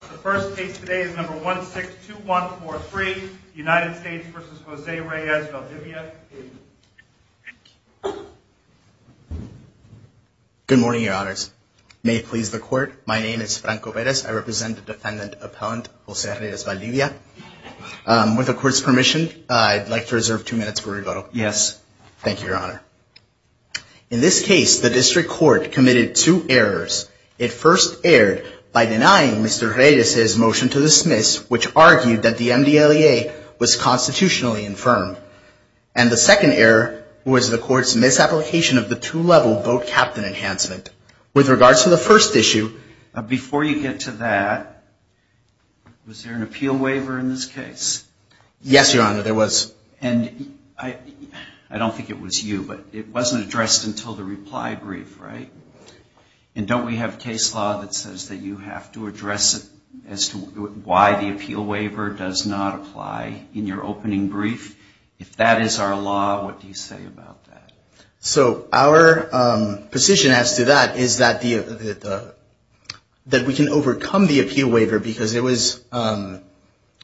The first case today is number 162143, United States v. Jose Reyes-Valdivia. Good morning, your honors. May it please the court, my name is Franco Perez. I represent the defendant appellant Jose Reyes-Valdivia. With the court's permission, I'd like to reserve two minutes for rigor. Yes. Thank you, your honor. In this case, the district court committed two errors. It first by denying Mr. Reyes' motion to dismiss, which argued that the MDLEA was constitutionally infirmed. And the second error was the court's misapplication of the two-level boat captain enhancement. With regards to the first issue, before you get to that, was there an appeal waiver in this case? Yes, your honor, there was. And I don't think it was you, but it wasn't addressed until the reply brief, right? And don't we have a case law that says that you have to address it as to why the appeal waiver does not apply in your opening brief? If that is our law, what do you say about that? So our position as to that is that we can overcome the appeal waiver because it was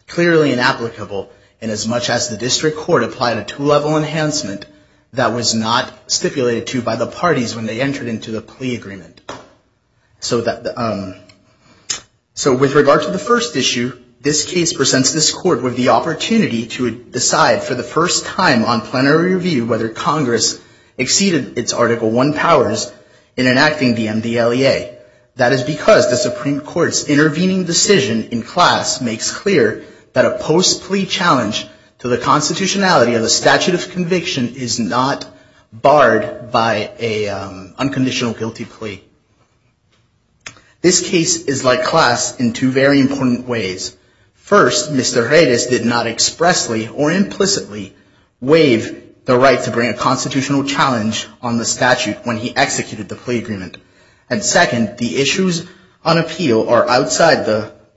clearly inapplicable. And as much as the district court applied a two-level enhancement, that was not stipulated to by the parties when they entered into the plea agreement. So with regard to the first issue, this case presents this court with the opportunity to decide for the first time on plenary review whether Congress exceeded its Article I powers in enacting the MDLEA. That is because the Supreme Court's intervening decision in class makes clear that a post-plea challenge to the constitutionality of the statute of conviction is not barred by an unconditional guilty plea. This case is like class in two very important ways. First, Mr. Reyes did not expressly or implicitly waive the right to bring a constitutional challenge on the statute when he executed the plea agreement. And second, the issues on appeal are outside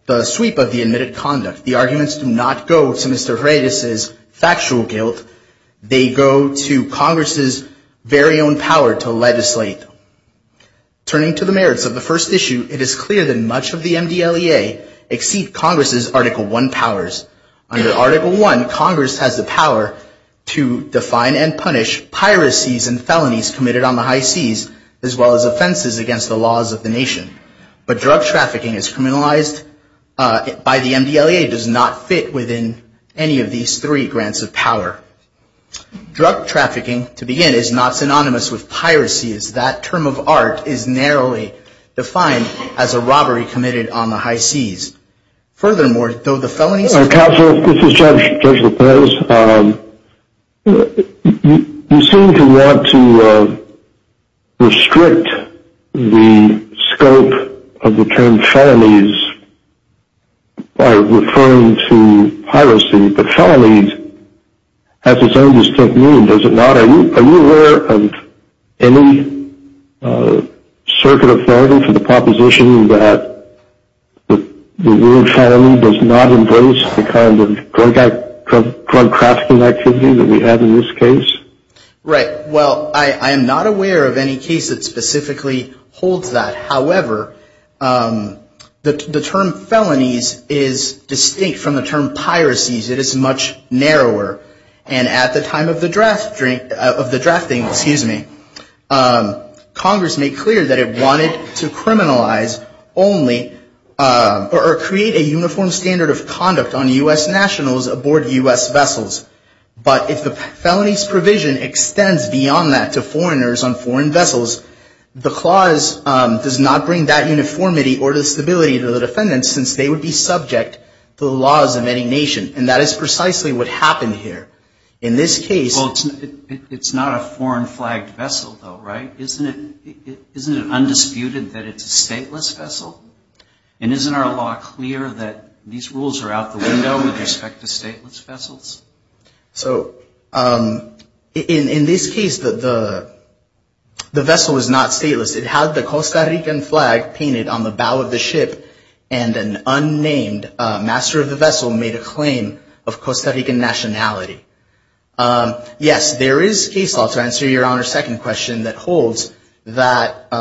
the sweep of the admitted conduct. The arguments do not go to Mr. Reyes's factual guilt. They go to Congress's very own power to legislate. Turning to the merits of the first issue, it is clear that much of the MDLEA exceed Congress's Article I powers. Under Article I, Congress has the power to define and punish piracies and felonies committed on the high seas as well as offenses against the laws of the nation. But drug trafficking as criminalized by the MDLEA does not fit within any of these three grants of power. Drug trafficking, to begin, is not synonymous with piracy as that term of art is narrowly defined as a robbery committed on the high seas. Furthermore, though the felonies... Counsel, this is Judge Lopez. You seem to want to restrict the scope of the term felonies by referring to piracy, but felonies has its own distinct meaning, does it not? Are you aware of any circuit of evidence in the proposition that the word felony does not embrace the kind of drug trafficking activity that we have in this case? Right. Well, I am not aware of any case that specifically holds that. However, the term felonies is distinct from the term piracies. It is much narrower. And at the time of the drafting, excuse me, Congress made clear that it wanted to criminalize only or create a uniform standard of conduct on U.S. nationals aboard U.S. vessels. But if the felonies provision extends beyond that to foreigners on foreign vessels, the clause does not bring that uniformity or the stability to the defendants since they would be what happened here. In this case... Well, it's not a foreign flagged vessel though, right? Isn't it undisputed that it's a stateless vessel? And isn't our law clear that these rules are out the window with respect to stateless vessels? So in this case, the vessel was not stateless. It had the Costa Rican flag painted on the bow of the ship and an unnamed master of the Costa Rican nationality. Yes, there is case law to answer your Honor's second question that holds that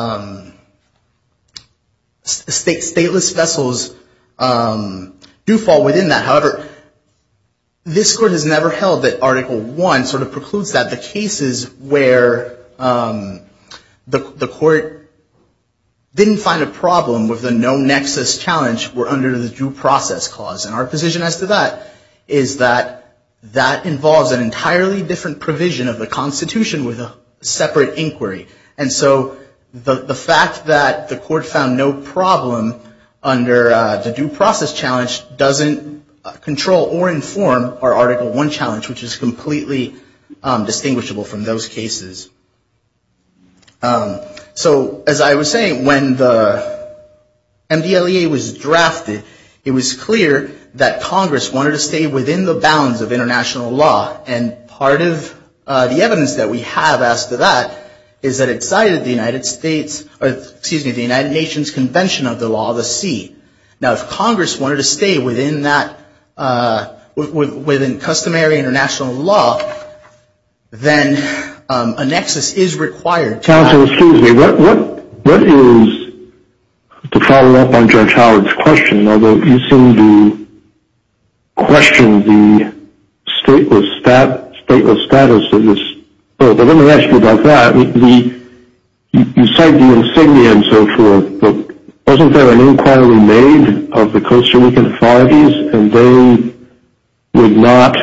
stateless vessels do fall within that. However, this Court has never held that Article 1 sort of precludes that the cases where the Court didn't find a problem with the no-nexus challenge were under the due process clause. And our position as to that is that that involves an entirely different provision of the Constitution with a separate inquiry. And so the fact that the Court found no problem under the due process challenge doesn't control or inform our Article 1 challenge, which is completely distinguishable from those cases. So as I was saying, when the IDEA was drafted, it was clear that Congress wanted to stay within the bounds of international law. And part of the evidence that we have as to that is that it cited the United States or excuse me, the United Nations Convention of the Law, the C. Now if Congress wanted to stay within that, within customary international law, then a nexus is required. Counsel, excuse me, what is to follow up on Judge Howard's question, although you seem to question the stateless status of this bill. But let me ask you about that. You cite the insignia and so forth, but wasn't there an inquiry made of the Costa Rican authorities and they would not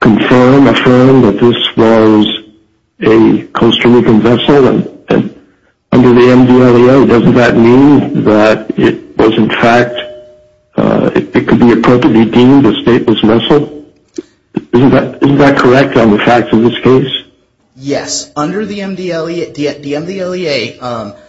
confirm, affirm that this was a Costa Rican vessel? And under the MDLEA, doesn't that mean that it was in fact, it could be appropriately deemed a stateless vessel? Isn't that correct on the facts of this case? Yes, under the MDLEA, the MDLEA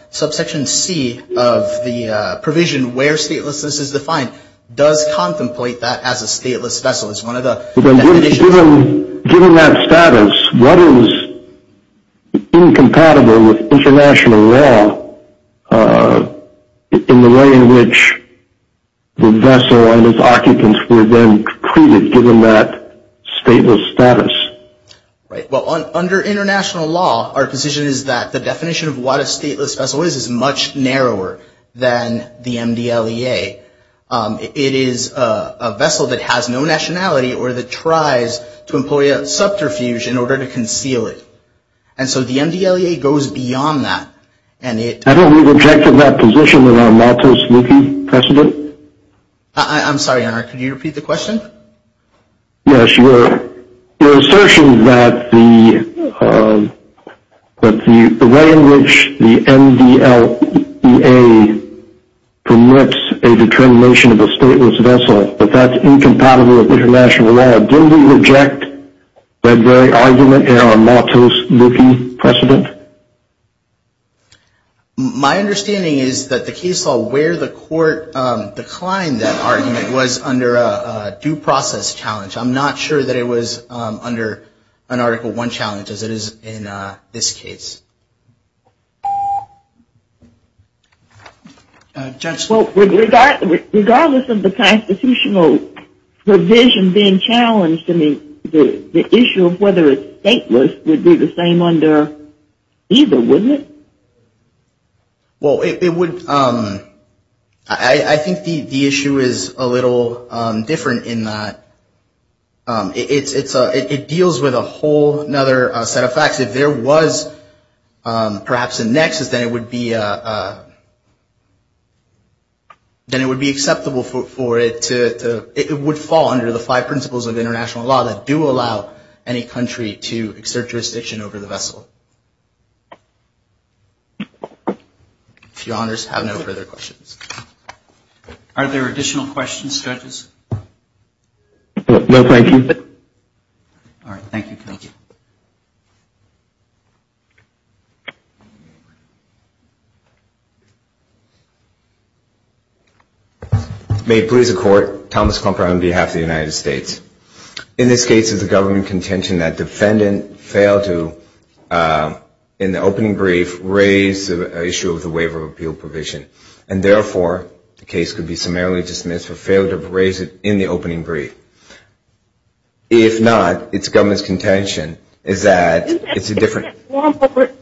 subsection C of the provision where statelessness is defined does contemplate that as a stateless vessel. It's one of the definitions. Given that status, what is incompatible with international law in the way in which the vessel and its occupants were then treated given that stateless status? Right. Well, under international law, our position is that the definition of what a stateless vessel is is much narrower than the MDLEA. It is a vessel that has no nationality or that tries to employ a subterfuge in order to conceal it. And so the MDLEA goes beyond that and it... I don't think we've objected to that position in our motto speaking precedent. I'm sorry, could you repeat the question? Yes, your assertion that the way in which the MDLEA permits a determination of a stateless vessel, that that's incompatible with international law, didn't we reject that very argument in our motto speaking precedent? My understanding is that the case law where the court declined that argument was under a due process challenge. I'm not sure that it was under an Article I challenge as it is in this case. Well, regardless of the constitutional provision being challenged, I mean, the issue of whether it's stateless would be the same under either, wouldn't it? Well, it would... I think the issue is a little different in that it deals with a whole other set of facts. If there was perhaps a nexus, then it would be acceptable for it to... It would fall under the five principles of international law that do allow any country to exert jurisdiction over the vessel. If your honors have no further questions. Are there additional questions, judges? No, thank you. May it please the court, Thomas Clumper on behalf of the United States. In this case, is the government contention that defendant failed to, in the opening brief, raise the issue of the waiver of appeal provision, and therefore the case could be summarily dismissed for failure to raise it in the opening brief? If not, it's government's contention is that it's a different...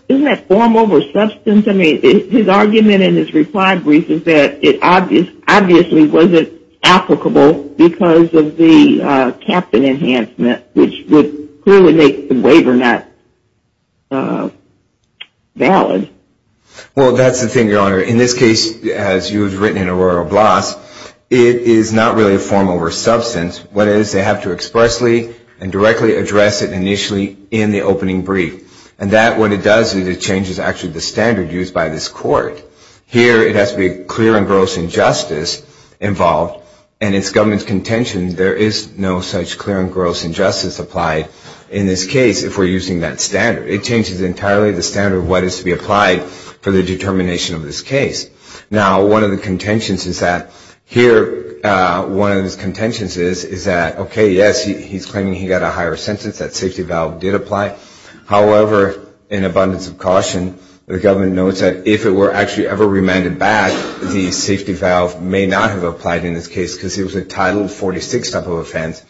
Isn't that form over substance? I mean, his argument in his reply brief is that it obviously wasn't applicable because of the captain enhancement, which would clearly make the waiver not valid. Well, that's the thing, your honor. In this case, as you have written in Aurora Blas, it is not really a form over substance. What it is, they have to expressly and directly address it initially in the opening brief. And that, what it does is it changes actually the standard used by this court. Here, it has to be clear and gross injustice involved, and it's government's contention there is no such clear and gross injustice applied in this case if we're using that standard. It changes entirely the standard of what is to be applied for the determination of this case. Now, one of the contentions is that here, one of the contentions is that, okay, yes, he's claiming he got a higher sentence, that safety valve did apply. However, in abundance of caution, the government notes that if it were actually ever remanded back, the safety valve may not have applied in this case because it was a Title 46 type of offense.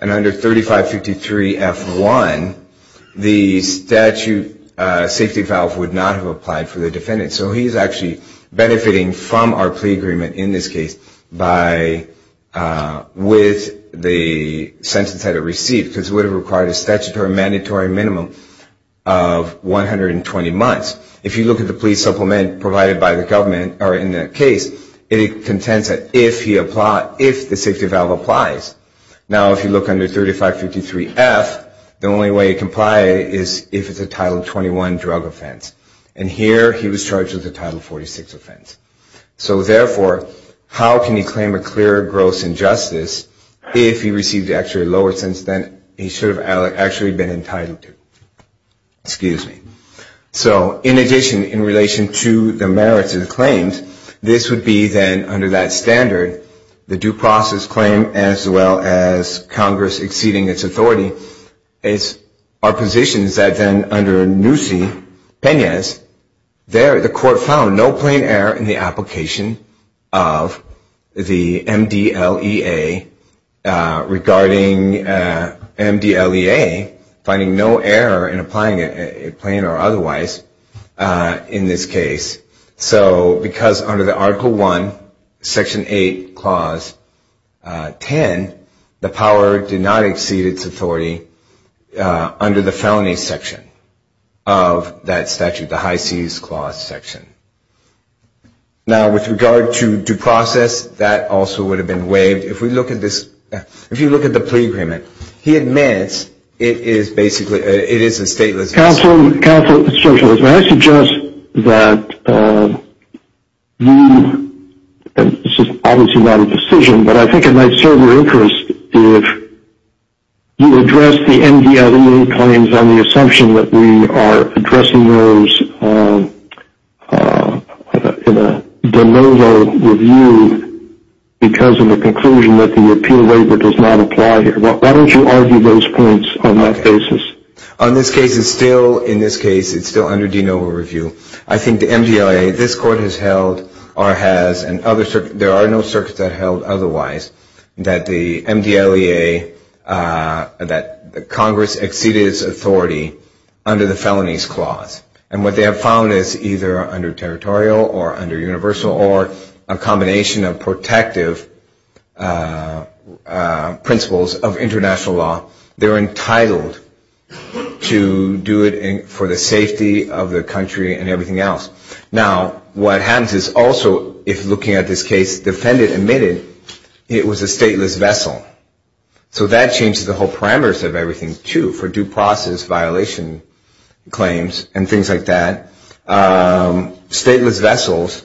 And under 3553 F1, the statute safety valve would not have applied for the defendant. So he's actually benefiting from our plea agreement in this case with the sentence that it received because it would have required a statutory mandatory minimum of 120 months. If you look at the plea supplement provided by the government or in that case, it contends that if the safety valve applies. Now, if you look under 3553 F, the only way it can apply is if it's a Title 21 drug offense. And here, he was charged with a Title 46 offense. So therefore, how can you claim a clear gross injustice if he received actually a lower sentence than he should have actually been entitled to? Excuse me. So in addition, in relation to the merits of the claims, this would be then under that standard, the due process claim as well as Congress exceeding its authority, our position is that then under Noosey-Penas, there the court found no plain error in the application of the MDLEA regarding MDLEA finding no error in applying it plain or otherwise in this case. So because under the Article 1, Section 8, Clause 10, the power did not exceed its authority under the felony section of that statute, the High Seize Clause section. Now, with regard to due process, that also would have been waived. If we look at this, if you look at the plea agreement, he admits it is basically, it is a stateless. Counsel, counsel, I suggest that you, this is obviously not a decision, but I think it might show your interest if you address the MDLEA claims on the assumption that we are addressing those in a de novo review because of the conclusion that the appeal waiver does not apply here. Why don't you argue those points on that basis? On this case, it's still, in this case, it's still under de novo review. I think the MDLEA, this court has held or has, and there are no circuits that held otherwise, that the MDLEA, that Congress exceeded its authority under the Felonies Clause. And what they have found is either under territorial or under universal or a combination of protective principles of international law, they're entitled to do it for the safety of the country and what happens is also, if looking at this case, the defendant admitted it was a stateless vessel. So that changes the whole parameters of everything, too, for due process violation claims and things like that. Stateless vessels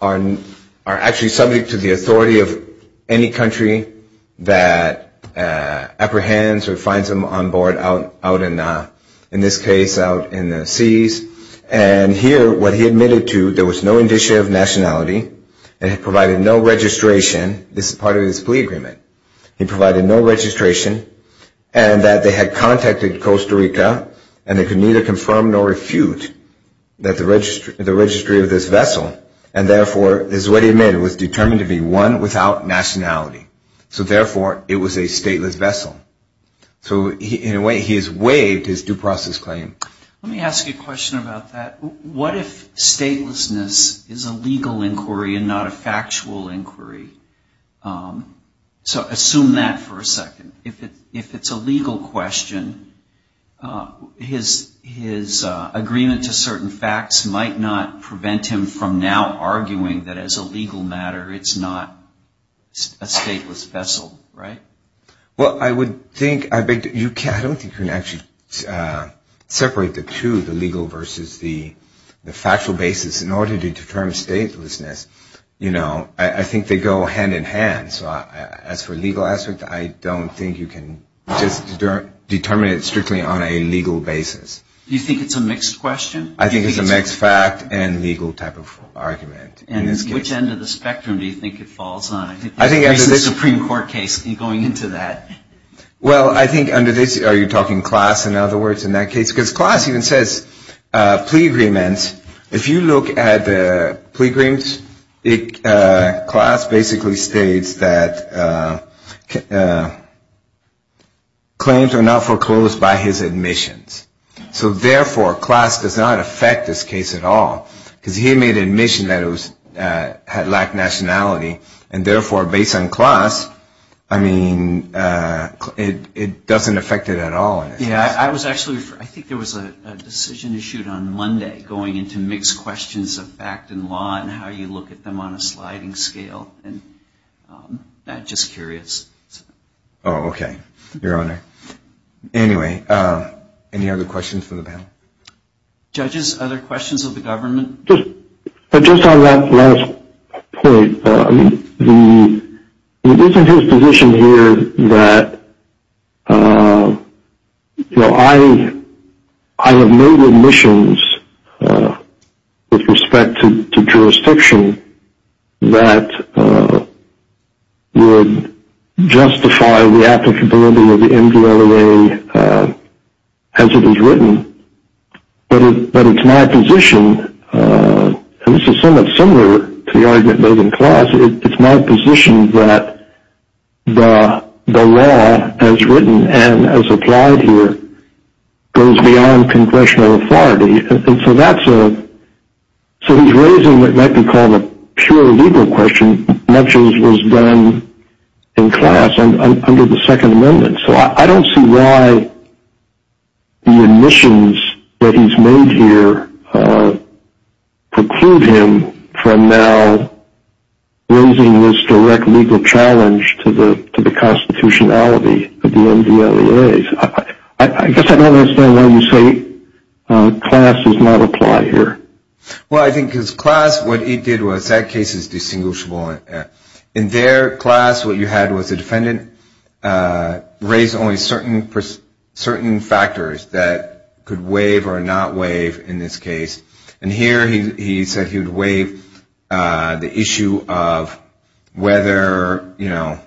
are actually subject to the authority of any country that apprehends or finds them on board out in, in this case, out in the seas. And here, what he admitted to, there was no indicia of nationality and had provided no registration. This is part of his plea agreement. He provided no registration and that they had contacted Costa Rica and they could neither confirm nor refute that the registry, the registry of this vessel and therefore, is what he admitted, was determined to be one without nationality. So therefore, it was a stateless vessel. So in a way, he has waived his due process claim. Let me ask you a question about that. What if statelessness is a legal inquiry and not a factual inquiry? So assume that for a second. If it's a legal question, his agreement to certain facts might not prevent him from now arguing that as a legal matter, it's not a stateless vessel, right? Well, I would think, I beg to, you can't, I don't think you can actually separate the two, the legal versus the, the factual basis in order to determine statelessness. You know, I think they go hand in hand. So as for legal aspect, I don't think you can just determine it strictly on a legal basis. Do you think it's a mixed question? I think it's a mixed fact and legal type of argument. And which end of the spectrum do you think it falls on? I think it's a Supreme Court case going into that. Well, I think under this, are you talking class, in other words, in that case, because class even says plea agreements. If you look at the plea agreements, class basically states that claims are not foreclosed by his admissions. So therefore, class does not affect this case at all because he made admission that it had lacked nationality. And therefore, based on class, I mean, it doesn't affect it at all. Yeah, I was actually, I think there was a decision issued on Monday going into mixed questions of fact and law and how you look at them on a sliding scale. And I'm just curious. Oh, okay. Your Honor. Anyway, any other questions for the panel? Judges, other questions of the government? But just on that last point, I mean, isn't his position here that, you know, I have made admissions with respect to jurisdiction that would justify the applicability of the MDLA as it is written. But it's my position, and this is somewhat similar to the argument made in class, it's my position that the law as written and as applied here goes beyond congressional authority. And so that's a, so he's raising what might be called a pure legal question, much as was done in class under the Second Amendment. So I don't see why the admissions that he's made here preclude him from now raising this direct legal challenge to the constitutionality of the MDLAs. I guess I don't understand why you say class does not apply here. Well, I think because class, what he did was that case is distinguishable. In their class, what you had was a defendant raised only certain factors that could waive or not waive in this case. And here he said he would waive the issue of whether, you know,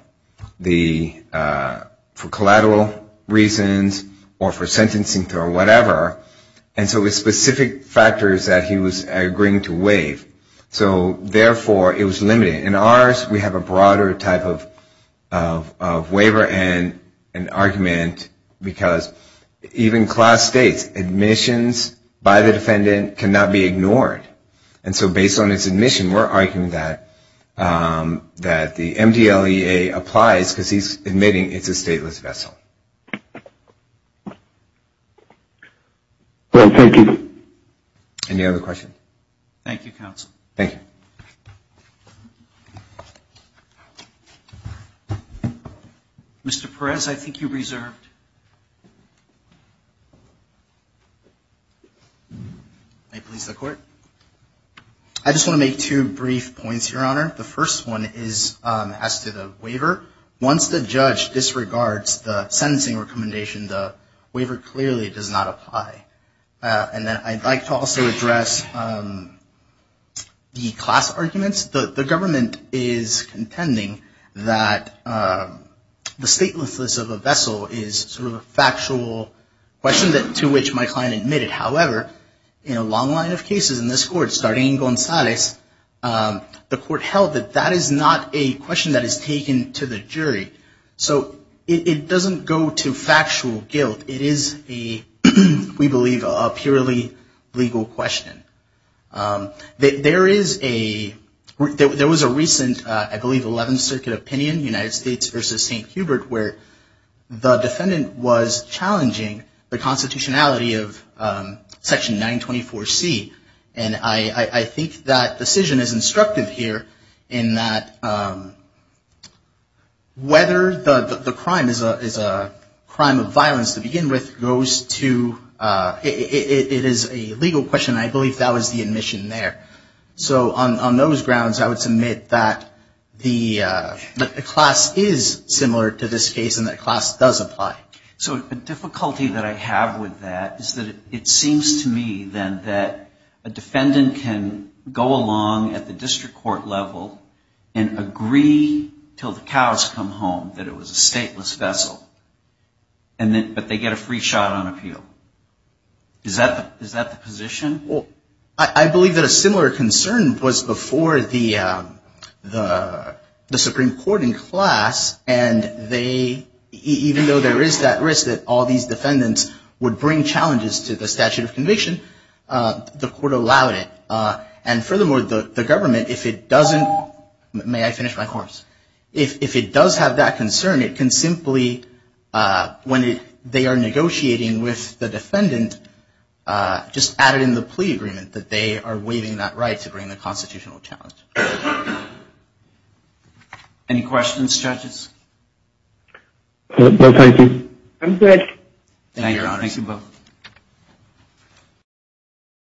the, for collateral reasons or for sentencing or whatever. And so it was specific factors that he was agreeing to waive. So therefore, it was limited. In ours, we have a broader type of waiver and an argument because even class states admissions by the defendant cannot be ignored. And so based on his admission, we're arguing that the MDLEA applies because he's admitting it's a stateless vessel. Well, thank you. Any other questions? Thank you, counsel. Thank you. Mr. Perez, I think you reserved. I just want to make two brief points, Your Honor. The first one is as to the waiver. Once the judge disregards the sentencing recommendation, the waiver clearly does not apply. And then I'd like to also address the class arguments. The government is contending that the statelessness of a vessel is sort of a factual question to which my client admitted. However, in a long line of cases in this court, starting in Gonzalez, the court held that that is not a question that is taken to the jury. So it doesn't go to factual guilt. It is a, we believe, a purely legal question. There is a, there was a recent, I believe, 11th Circuit opinion, United States versus St. Hubert, where the defendant was challenging the constitutionality of Section 924C. And I think that decision is instructive here in that whether the crime is a crime of violence to begin with goes to, it is a legal question. I believe that was the admission there. So on those grounds, I would submit that the class is similar to this case and that class does apply. So a difficulty that I have with that is that it seems to me then that a defendant can go along at the district court level and agree till the cows come home that it was a stateless vessel. And then, but they get a free shot on appeal. Is that the position? Well, I believe that a similar concern was before the Supreme Court in class. And they, even though there is that risk that all these defendants would bring challenges to the statute of conviction, the court allowed it. And furthermore, the government, if it doesn't, may I finish my course? If it does have that concern, it can simply, when they are negotiating with the defendant, just add it in the plea agreement that they are waiving that right to bring the constitutional challenge. Any questions, judges? No, thank you. I'm good. Thank you both.